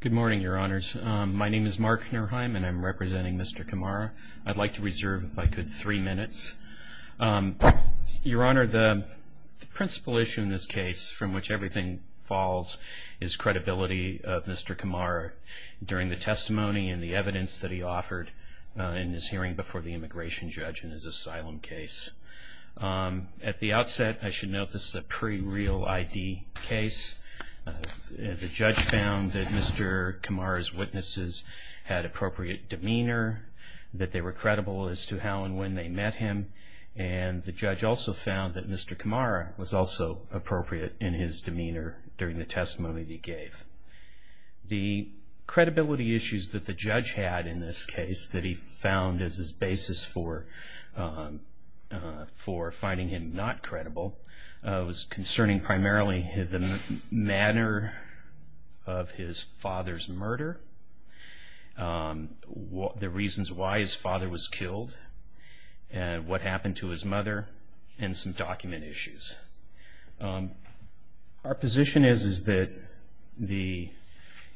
Good morning, Your Honors. My name is Mark Nerheim and I'm representing Mr. Kamara. I'd like to reserve, if I could, three minutes. Your Honor, the principal issue in this case, from which everything falls, is credibility of Mr. Kamara during the testimony and the evidence that he offered in his hearing before the immigration judge in his asylum case. At the outset, I should note this is a pre-real ID case. The judge found that Mr. Kamara's witnesses had appropriate demeanor, that they were credible as to how and when they met him, and the judge also found that Mr. Kamara was also appropriate in his demeanor during the testimony that he gave. The credibility issues that the judge had in this case that he found as his basis for finding him not credible was concerning primarily the manner of his father's murder, the reasons why his father was killed, what happened to his mother, and some document issues. Our position is that the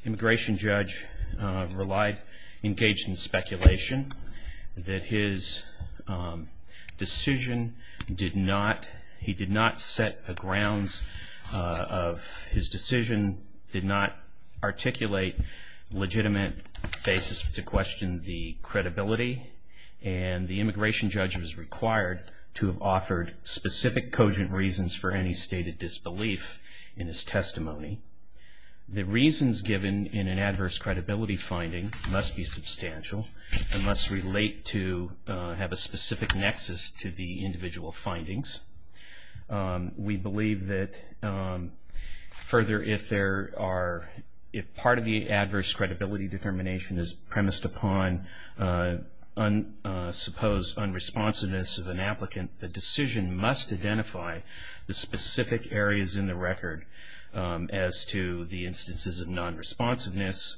immigration judge relied, engaged in speculation, that his decision did not, he did not set the grounds of his decision, did not articulate legitimate basis to question the credibility, and the immigration judge was required to have offered specific cogent reasons for any stated disbelief in his testimony. The reasons given in an adverse credibility finding must be substantial and must relate to, have a specific nexus to the individual findings. We believe that further, if there are, if part of the adverse credibility determination is premised upon, suppose, unresponsiveness of an applicant, the decision must identify the specific areas in the record as to the instances of non-responsiveness,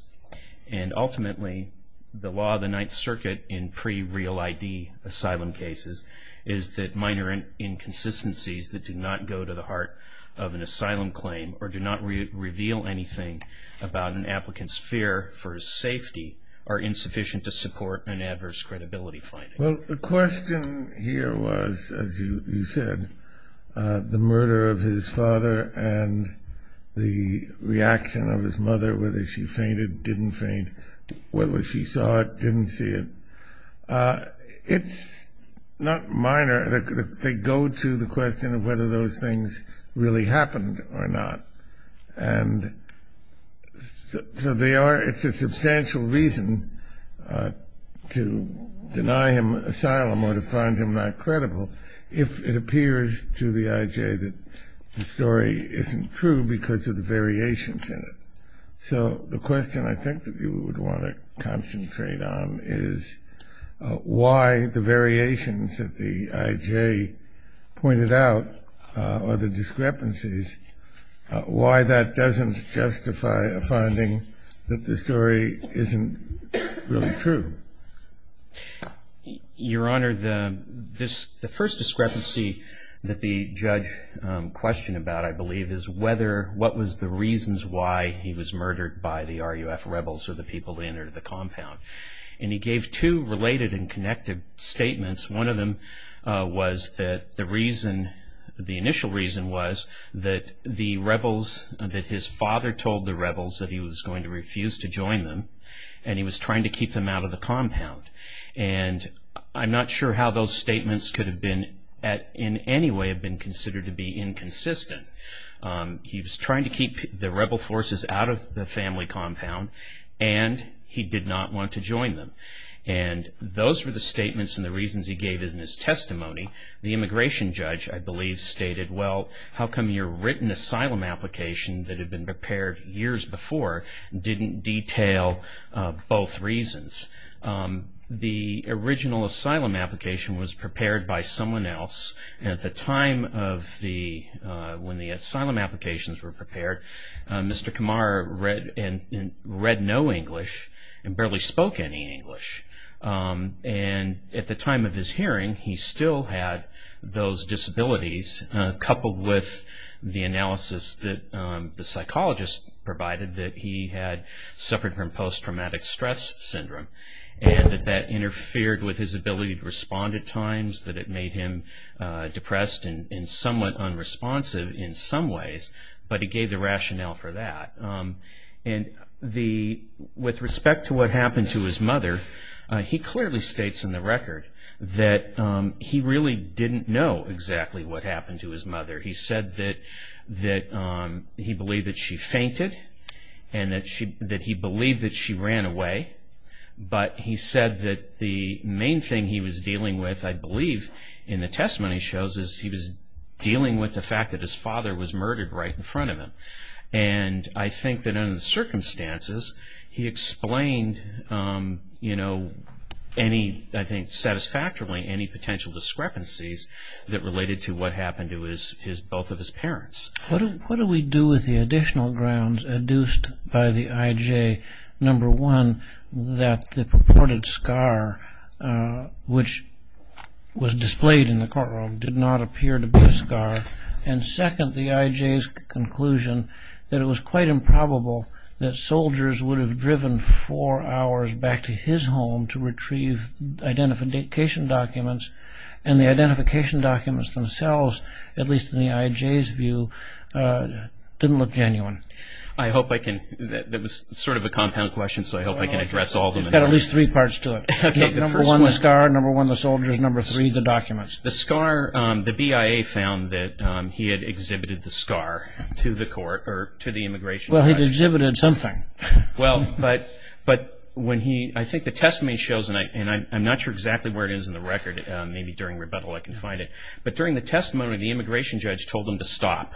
and ultimately, the law of the Ninth Circuit in pre-real ID asylum cases is that minor inconsistencies in the decision must be identified. Consistencies that do not go to the heart of an asylum claim or do not reveal anything about an applicant's fear for his safety are insufficient to support an adverse credibility finding. Well, the question here was, as you said, the murder of his father and the reaction of his mother, whether she fainted, didn't faint, whether she saw it, didn't see it. It's not minor. They go to the question of whether those things really happened or not. And so they are, it's a substantial reason to deny him asylum or to find him not credible if it appears to the IJ that the story isn't true because of the variations in it. So the question I think that you would want to concentrate on is why the variations that the IJ pointed out or the discrepancies, why that doesn't justify a finding that the story isn't really true. Your Honor, the first discrepancy that the judge questioned about, I believe, is whether, what was the reasons why he was murdered by the RUF rebels or the people that entered the compound. And he gave two related and connected statements. One of them was that the reason, the initial reason was that the rebels, that his father told the rebels that he was going to refuse to join them and he was trying to keep them out of the compound. And I'm not sure how those statements could have been, in any way, have been considered to be inconsistent. He was trying to keep the rebel forces out of the family compound and he did not want to join them. And those were the statements and the reasons he gave in his testimony. The immigration judge, I believe, stated, well, how come your written asylum application that had been prepared years before didn't detail both reasons? The original asylum application was prepared by someone else and at the time of the, when the asylum applications were prepared, Mr. Kumar read no English and barely spoke any English. And at the time of his hearing, he still had those disabilities coupled with the analysis that the psychologist provided that he had suffered from post-traumatic stress syndrome and that that interfered with his ability to respond at times, that it made him depressed and somewhat unresponsive in some ways, but he gave the rationale for that. And with respect to what happened to his mother, he clearly states in the record that he really didn't know exactly what happened to his mother. He said that he believed that she fainted and that he believed that she ran away, but he said that the main thing he was dealing with, I believe, in the testimony shows is he was dealing with the fact that his father was murdered right in front of him. And I think that under the circumstances, he explained, you know, any, I think satisfactorily, any potential discrepancies that related to what happened to his, both of his parents. What do we do with the additional grounds adduced by the IJ? Number one, that the purported scar, which was displayed in the courtroom, did not appear to be a scar. And second, the IJ's conclusion that it was quite improbable that soldiers would have driven four hours back to his home to retrieve identification documents, and the identification documents themselves, at least in the IJ's view, didn't look genuine. I hope I can, that was sort of a compound question, so I hope I can address all of them. It's got at least three parts to it. Okay, the first one. Number one, the scar, number one, the soldiers, number three, the documents. The scar, the BIA found that he had exhibited the scar to the court, or to the immigration judge. Well, he exhibited something. Well, but when he, I think the testimony shows, and I'm not sure exactly where it is in the record, maybe during rebuttal I can find it. But during the testimony, the immigration judge told him to stop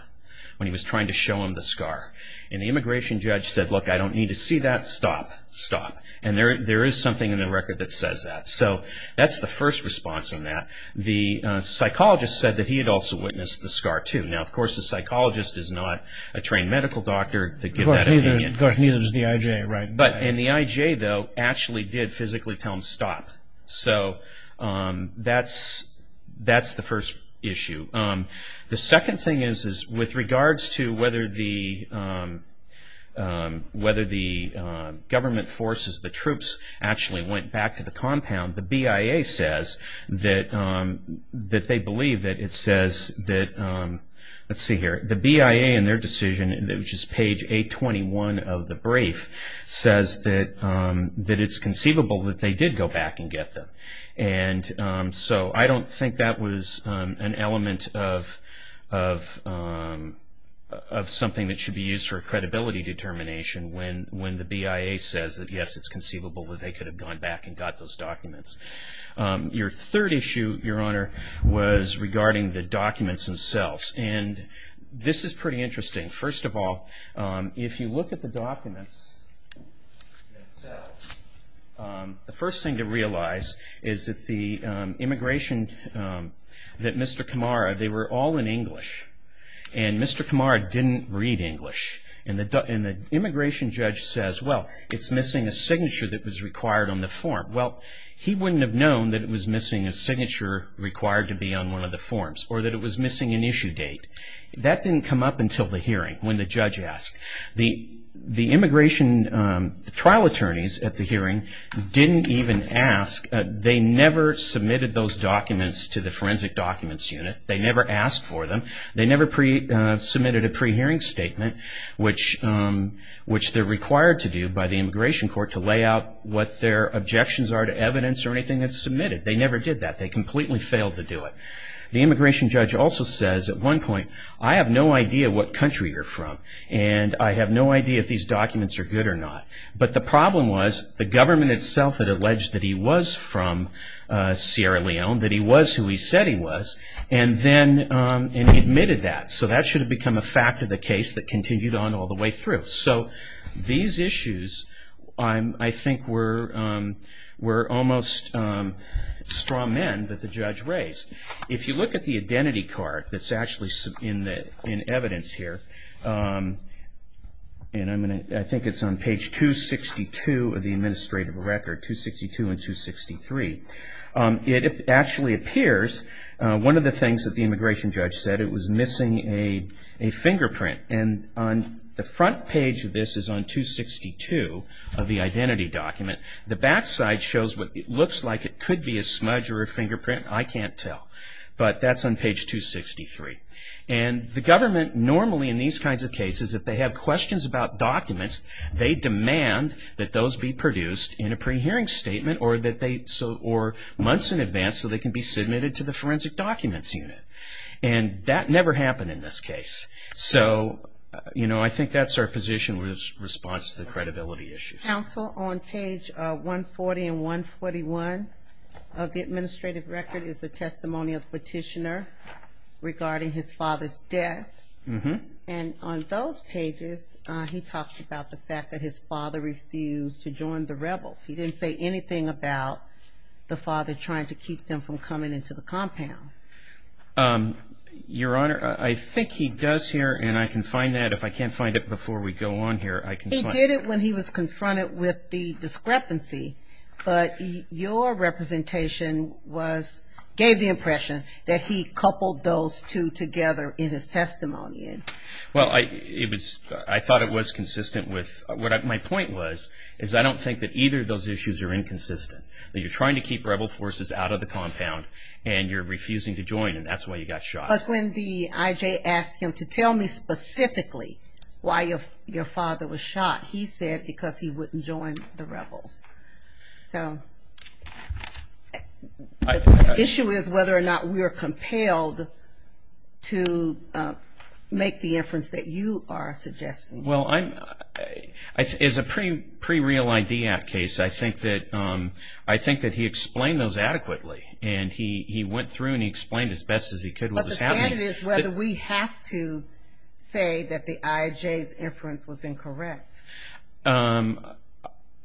when he was trying to show him the scar. And the immigration judge said, look, I don't need to see that, stop, stop. And there is something in the record that says that. So that's the first response on that. The psychologist said that he had also witnessed the scar, too. Now, of course, the psychologist is not a trained medical doctor to give that opinion. Of course, neither is the IJ, right. But, and the IJ, though, actually did physically tell him to stop. So that's the first issue. The second thing is, is with regards to whether the government forces, the troops, actually went back to the compound, the BIA says that they believe that it says that, let's see here, the BIA in their decision, which is page 821 of the brief, says that it's conceivable that they did go back and get them. And so I don't think that was an element of something that should be used for credibility determination when the BIA says that, yes, it's conceivable that they could have gone back and got those documents. Your third issue, Your Honor, was regarding the documents themselves. And this is pretty interesting. First of all, if you look at the documents themselves, the first thing to realize is that the immigration, that Mr. Kamara, they were all in English. And Mr. Kamara didn't read English. And the immigration judge says, well, it's missing a signature that was required on the form. Well, he wouldn't have known that it was missing a signature required to be on one of the forms or that it was missing an issue date. That didn't come up until the hearing when the judge asked. The immigration trial attorneys at the hearing didn't even ask. They never submitted those documents to the forensic documents unit. They never asked for them. They never submitted a pre-hearing statement, which they're required to do by the immigration court to lay out what their objections are to evidence or anything that's submitted. They never did that. They completely failed to do it. The immigration judge also says at one point, I have no idea what country you're from and I have no idea if these documents are good or not. But the problem was the government itself had alleged that he was from Sierra Leone, that he was who he said he was, and then admitted that. So that should have become a fact of the case that continued on all the way through. So these issues I think were almost straw men that the judge raised. If you look at the identity card that's actually in evidence here, and I think it's on page 262 of the administrative record, 262 and 263, it actually appears one of the things that the immigration judge said, it was missing a fingerprint. And on the front page of this is on 262 of the identity document. The backside shows what looks like it could be a smudge or a fingerprint. I can't tell. But that's on page 263. And the government normally in these kinds of cases, if they have questions about documents, they demand that those be produced in a pre-hearing statement or months in advance so they can be submitted to the forensic documents unit. And that never happened in this case. So, you know, I think that's our position in response to the credibility issues. Counsel, on page 140 and 141 of the administrative record, is the testimony of the petitioner regarding his father's death. And on those pages he talks about the fact that his father refused to join the rebels. He didn't say anything about the father trying to keep them from coming into the compound. Your Honor, I think he does here, and I can find that. If I can't find it before we go on here, I can find it. He did it when he was confronted with the discrepancy. But your representation gave the impression that he coupled those two together in his testimony. Well, I thought it was consistent with what my point was, is I don't think that either of those issues are inconsistent. That you're trying to keep rebel forces out of the compound, and you're refusing to join, and that's why you got shot. But when the IJ asked him to tell me specifically why your father was shot, he said because he wouldn't join the rebels. So the issue is whether or not we are compelled to make the inference that you are suggesting. Well, as a pre-Real ID Act case, I think that he explained those adequately. And he went through and he explained as best as he could what was happening. But the standard is whether we have to say that the IJ's inference was incorrect.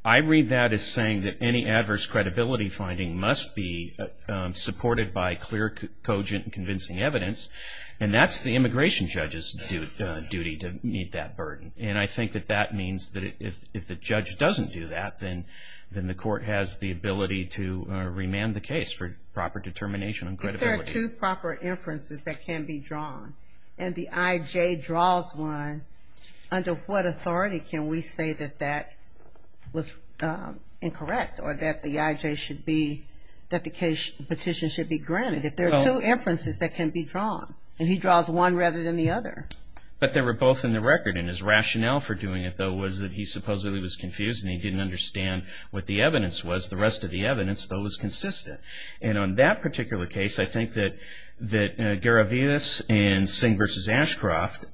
I read that as saying that any adverse credibility finding must be supported by clear, cogent, convincing evidence. And that's the immigration judge's duty to meet that burden. And I think that that means that if the judge doesn't do that, then the court has the ability to remand the case for proper determination on credibility. If there are two proper inferences that can be drawn, and the IJ draws one, under what authority can we say that that was incorrect, or that the IJ should be, that the petition should be granted? If there are two inferences that can be drawn, and he draws one rather than the other. But they were both in the record. And his rationale for doing it, though, was that he supposedly was confused and he didn't understand what the evidence was. The rest of the evidence, though, was consistent. And on that particular case, I think that Garavidas and Singh v. Ashcroft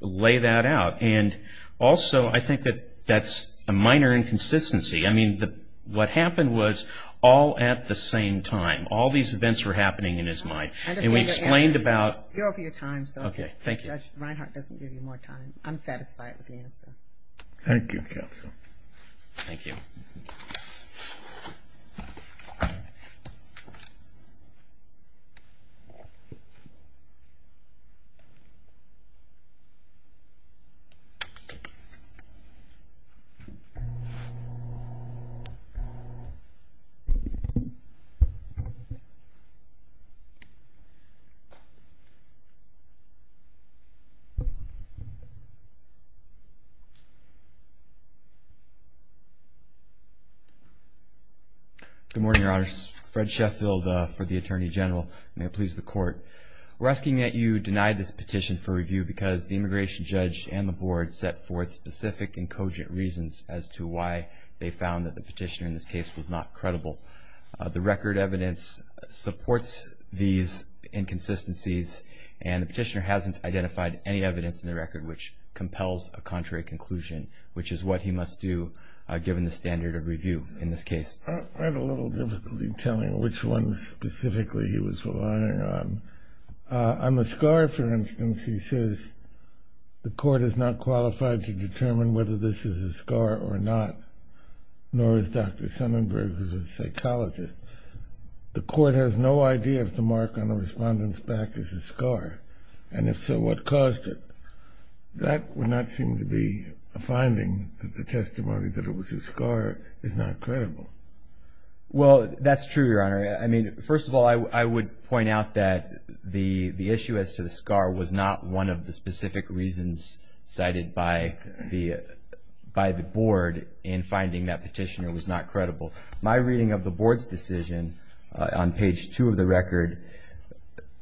lay that out. And also, I think that that's a minor inconsistency. I mean, what happened was all at the same time. All these events were happening in his mind. And we explained about... I understand your answer. You're over your time, so... Okay, thank you. Judge Reinhart doesn't give you more time. I'm satisfied with the answer. Thank you, counsel. Thank you. Thank you. Good morning, Your Honors. Fred Sheffield for the Attorney General. May it please the Court. We're asking that you deny this petition for review because the immigration judge and the board set forth specific and cogent reasons as to why they found that the petitioner in this case was not credible. The record evidence supports these inconsistencies, and the petitioner hasn't identified any evidence in the record which compels a contrary conclusion, which is what he must do given the standard of review in this case. I had a little difficulty telling which ones specifically he was relying on. On the scar, for instance, he says, the court is not qualified to determine whether this is a scar or not, nor is Dr. Sonnenberg, who's a psychologist. The court has no idea if the mark on the respondent's back is a scar, and if so, what caused it. That would not seem to be a finding that the testimony that it was a scar is not credible. Well, that's true, Your Honor. I mean, first of all, I would point out that the issue as to the scar was not one of the specific reasons cited by the board in finding that petitioner was not credible. My reading of the board's decision on page 2 of the record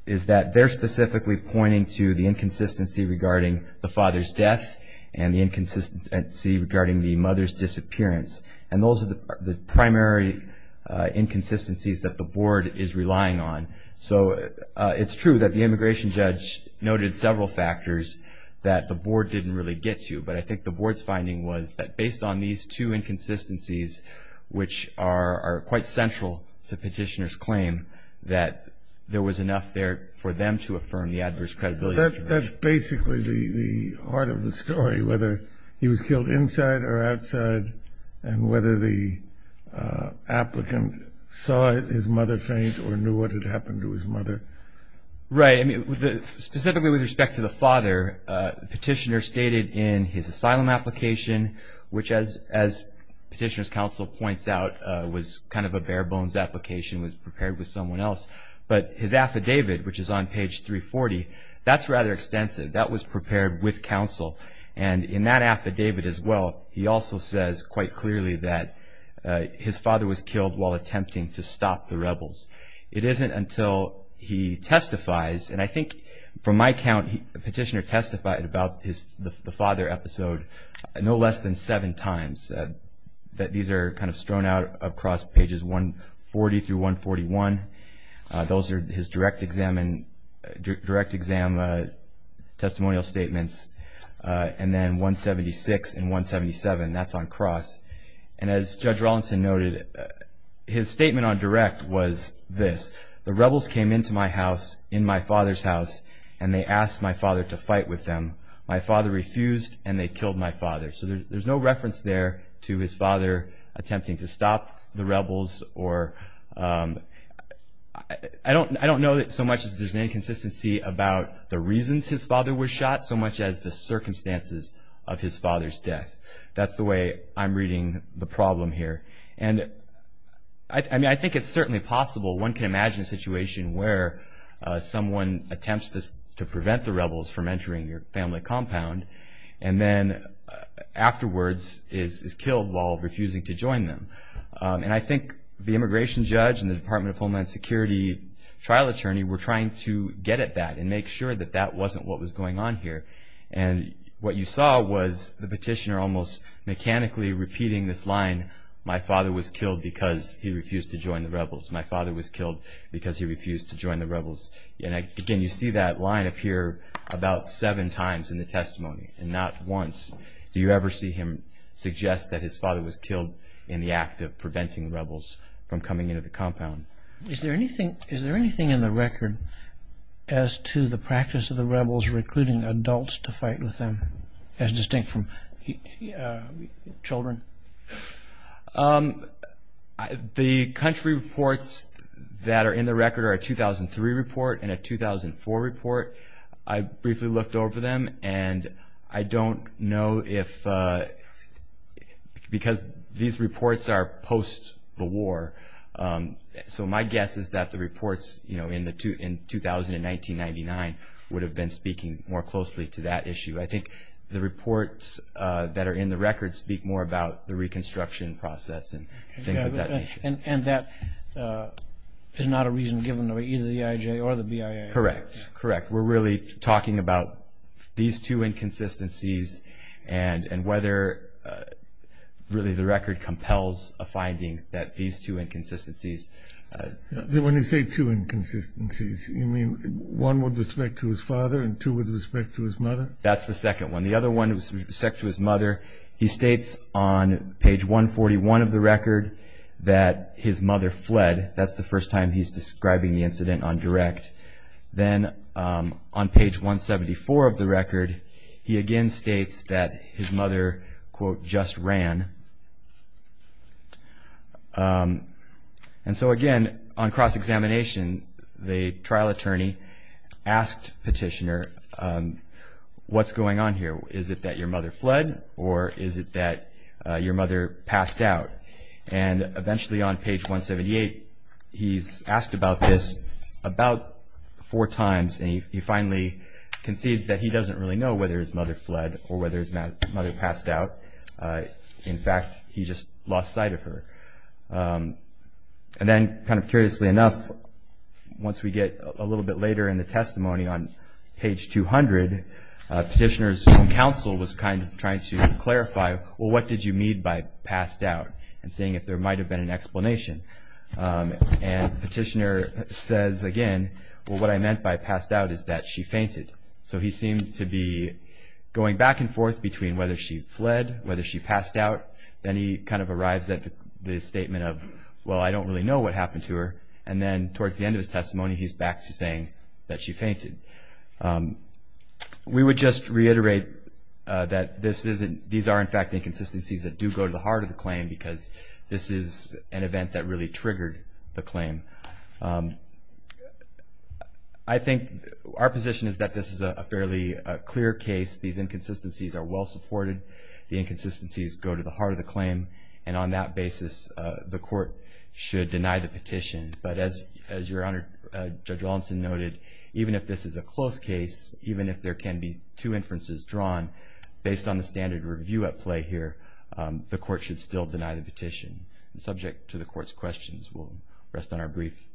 is that they're specifically pointing to the inconsistency regarding the father's death and the inconsistency regarding the mother's disappearance, and those are the primary inconsistencies that the board is relying on. So it's true that the immigration judge noted several factors that the board didn't really get to, but I think the board's finding was that based on these two inconsistencies, which are quite central to petitioner's claim, that there was enough there for them to affirm the adverse credibility. That's basically the heart of the story, whether he was killed inside or outside and whether the applicant saw his mother faint or knew what had happened to his mother. Right. Specifically with respect to the father, petitioner stated in his asylum application, which as petitioner's counsel points out, was kind of a bare-bones application, was prepared with someone else. But his affidavit, which is on page 340, that's rather extensive. That was prepared with counsel, and in that affidavit as well, he also says quite clearly that his father was killed while attempting to stop the rebels. It isn't until he testifies, and I think from my count, petitioner testified about the father episode no less than seven times. These are kind of strewn out across pages 140 through 141. Those are his direct exam testimonial statements. And then 176 and 177, that's on cross. And as Judge Rawlinson noted, his statement on direct was this, the rebels came into my house, in my father's house, and they asked my father to fight with them. My father refused, and they killed my father. So there's no reference there to his father attempting to stop the rebels. I don't know that so much as there's an inconsistency about the reasons his father was shot so much as the circumstances of his father's death. That's the way I'm reading the problem here. And I think it's certainly possible one can imagine a situation where someone attempts to prevent the rebels from entering your family compound and then afterwards is killed while refusing to join them. And I think the immigration judge and the Department of Homeland Security trial attorney were trying to get at that and make sure that that wasn't what was going on here. And what you saw was the petitioner almost mechanically repeating this line, my father was killed because he refused to join the rebels. Again, you see that line appear about seven times in the testimony and not once do you ever see him suggest that his father was killed in the act of preventing the rebels from coming into the compound. Is there anything in the record as to the practice of the rebels recruiting adults to fight with them, as distinct from children? The country reports that are in the record are a 2003 report and a 2004 report. I briefly looked over them and I don't know if because these reports are post the war. So my guess is that the reports in 2000 and 1999 would have been speaking more closely to that issue. I think the reports that are in the record speak more about the reconstruction process and things of that nature. And that is not a reason given by either the EIJ or the BIA? Correct, correct. We're really talking about these two inconsistencies and whether really the record compels a finding that these two inconsistencies. When you say two inconsistencies, you mean one with respect to his father and two with respect to his mother? That's the second one. The other one was with respect to his mother. He states on page 141 of the record that his mother fled. That's the first time he's describing the incident on direct. Then on page 174 of the record, he again states that his mother, quote, just ran. And so again, on cross-examination, the trial attorney asked Petitioner, what's going on here? Is it that your mother fled or is it that your mother passed out? And eventually on page 178, he's asked about this about four times and he finally concedes that he doesn't really know whether his mother fled or whether his mother passed out. In fact, he just lost sight of her. And then kind of curiously enough, once we get a little bit later in the testimony on page 200, Petitioner's own counsel was kind of trying to clarify, well, what did you mean by passed out? And saying if there might have been an explanation. And Petitioner says again, well, what I meant by passed out is that she fainted. So he seemed to be going back and forth between whether she fled, whether she passed out. Then he kind of arrives at the statement of, well, I don't really know what happened to her. And then towards the end of his testimony, he's back to saying that she fainted. We would just reiterate that these are in fact inconsistencies that do go to the heart of the claim because this is an event that really triggered the claim. I think our position is that this is a fairly clear case. These inconsistencies are well supported. The inconsistencies go to the heart of the claim. And on that basis, the court should deny the petition. But as your Honor, Judge Lawson noted, even if this is a close case, even if there can be two inferences drawn based on the standard review at play here, the court should still deny the petition. Subject to the court's questions, we'll rest on our brief.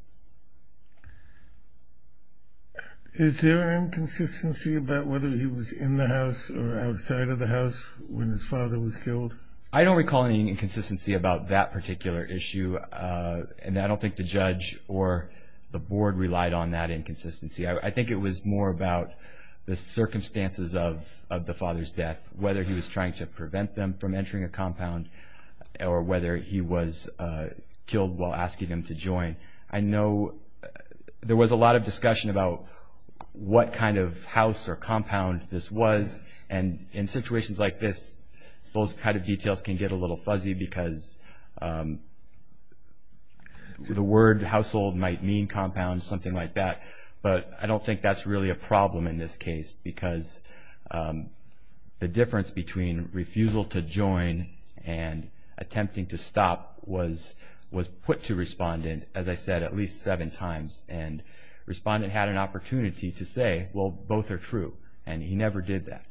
Is there inconsistency about whether he was in the house or outside of the house when his father was killed? I don't recall any inconsistency about that particular issue. And I don't think the judge or the board relied on that inconsistency. I think it was more about the circumstances of the father's death, or whether he was killed while asking him to join. I know there was a lot of discussion about what kind of house or compound this was. And in situations like this, those kind of details can get a little fuzzy because the word household might mean compound, something like that. But I don't think that's really a problem in this case because the difference between refusal to join and attempting to stop was put to Respondent, as I said, at least seven times. And Respondent had an opportunity to say, well, both are true. And he never did that.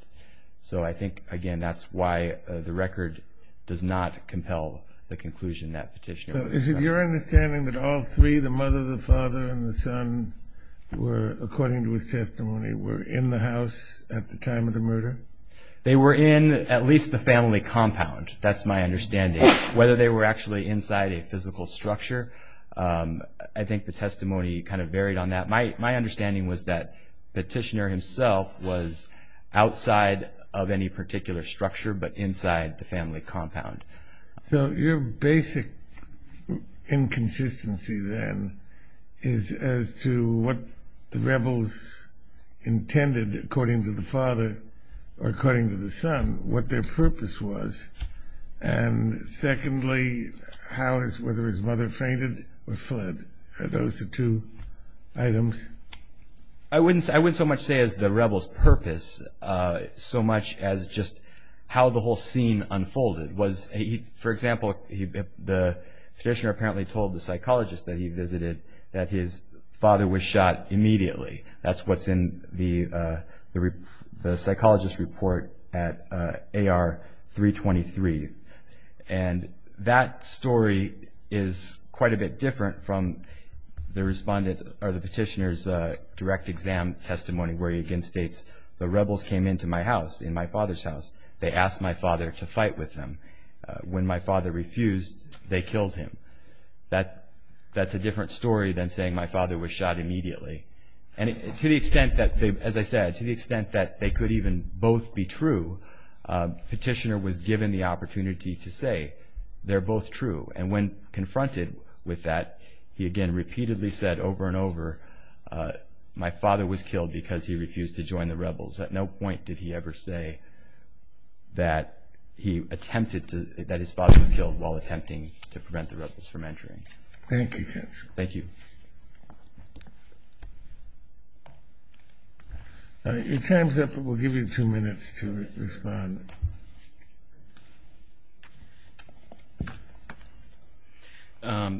So I think, again, that's why the record does not compel the conclusion that petitioner was found. So is it your understanding that all three, the mother, the father, and the son, according to his testimony, were in the house at the time of the murder? They were in at least the family compound. That's my understanding. Whether they were actually inside a physical structure, I think the testimony kind of varied on that. My understanding was that petitioner himself was outside of any particular structure, but inside the family compound. So your basic inconsistency then is as to what the rebels intended, according to the father or according to the son, what their purpose was. And secondly, whether his mother fainted or fled. Are those the two items? I wouldn't so much say it was the rebels' purpose so much as just how the whole scene unfolded. For example, the petitioner apparently told the psychologist that he visited that his father was shot immediately. That's what's in the psychologist's report at AR-323. And that story is quite a bit different from the petitioner's direct exam testimony, where he again states, the rebels came into my house, in my father's house. They asked my father to fight with them. When my father refused, they killed him. That's a different story than saying my father was shot immediately. And to the extent that, as I said, to the extent that they could even both be true, the petitioner was given the opportunity to say they're both true. And when confronted with that, he again repeatedly said over and over, my father was killed because he refused to join the rebels. At no point did he ever say that he attempted to – that his father was killed while attempting to prevent the rebels from entering. Thank you, Ken. Thank you. Your time's up, but we'll give you two minutes to respond.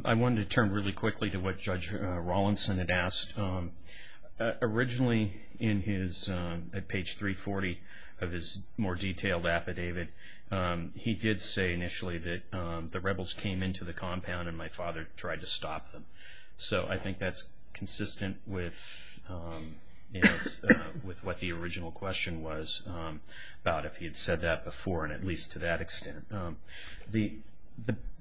I wanted to turn really quickly to what Judge Rawlinson had asked. Originally in his – at page 340 of his more detailed affidavit, he did say initially that the rebels came into the compound and my father tried to stop them. So I think that's consistent with what the original question was about, if he had said that before and at least to that extent.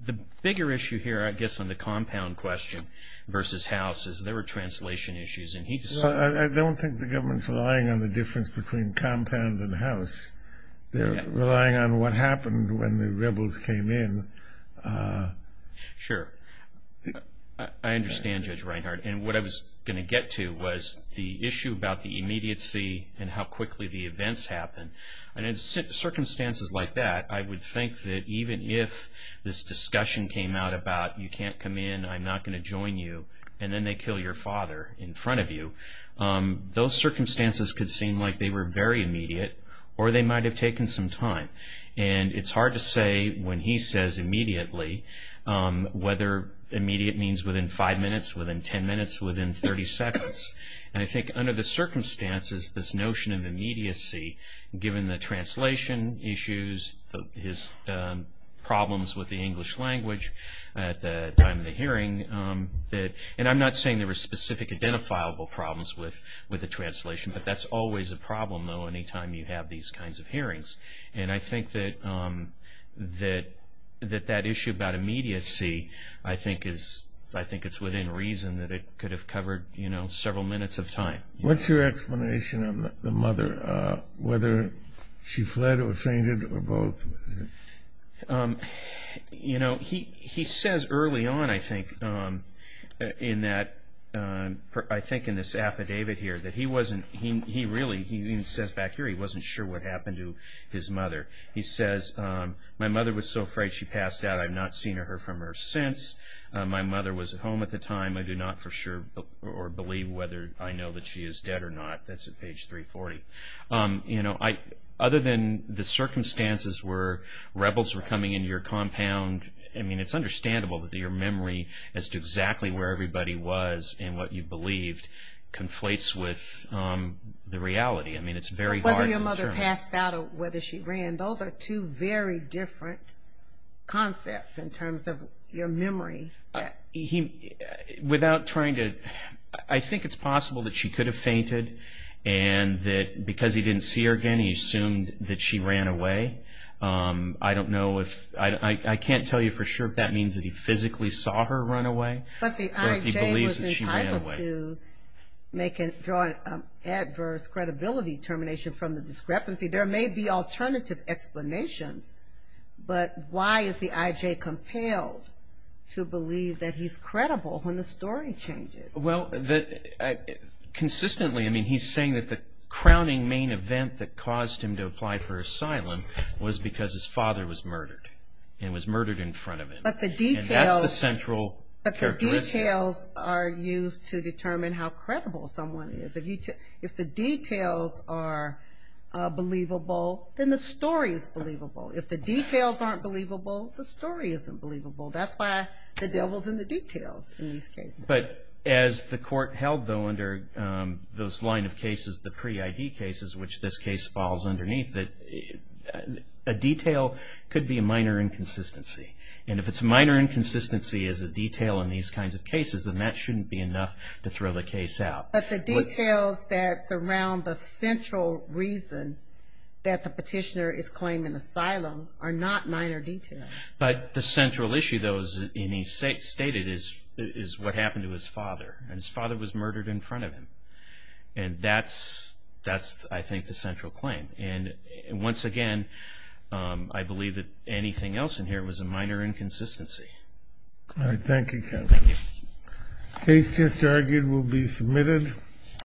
The bigger issue here, I guess, on the compound question versus house, is there were translation issues. I don't think the government's relying on the difference between compound and house. They're relying on what happened when the rebels came in. Sure. I understand, Judge Reinhart. And what I was going to get to was the issue about the immediacy and how quickly the events happened. And in circumstances like that, I would think that even if this discussion came out about you can't come in, I'm not going to join you, and then they kill your father in front of you, those circumstances could seem like they were very immediate or they might have taken some time. And it's hard to say when he says immediately whether immediate means within five minutes, within ten minutes, within 30 seconds. And I think under the circumstances, this notion of immediacy, given the translation issues, his problems with the English language at the time of the hearing, and I'm not saying there were specific identifiable problems with the translation, but that's always a problem, though, any time you have these kinds of hearings. And I think that that issue about immediacy, I think it's within reason that it could have covered several minutes of time. What's your explanation of the mother, whether she fled or fainted or both? You know, he says early on, I think, in this affidavit here, that he wasn't, he really, he even says back here he wasn't sure what happened to his mother. He says, my mother was so afraid she passed out I've not seen her from her since. My mother was at home at the time. I do not for sure or believe whether I know that she is dead or not. That's at page 340. You know, other than the circumstances where rebels were coming into your compound, I mean, it's understandable that your memory as to exactly where everybody was and what you believed conflates with the reality. I mean, it's very hard to determine. Whether your mother passed out or whether she ran, those are two very different concepts in terms of your memory. Without trying to, I think it's possible that she could have fainted and that because he didn't see her again he assumed that she ran away. I don't know if, I can't tell you for sure if that means that he physically saw her run away. But the I.J. was entitled to draw an adverse credibility termination from the discrepancy. There may be alternative explanations, but why is the I.J. compelled to believe that he's credible when the story changes? Well, consistently, I mean, he's saying that the crowning main event that caused him to apply for asylum was because his father was murdered and was murdered in front of him. But the details are used to determine how credible someone is. If the details are believable, then the story is believable. If the details aren't believable, the story isn't believable. That's why the devil's in the details in these cases. But as the court held, though, under those line of cases, the pre-I.D. cases, which this case falls underneath, that a detail could be a minor inconsistency. And if it's a minor inconsistency as a detail in these kinds of cases, then that shouldn't be enough to throw the case out. But the details that surround the central reason that the petitioner is claiming asylum are not minor details. But the central issue, though, as he stated, is what happened to his father, and his father was murdered in front of him. And that's, I think, the central claim. And once again, I believe that anything else in here was a minor inconsistency. All right. Thank you, counsel. Thank you. The case just argued will be submitted.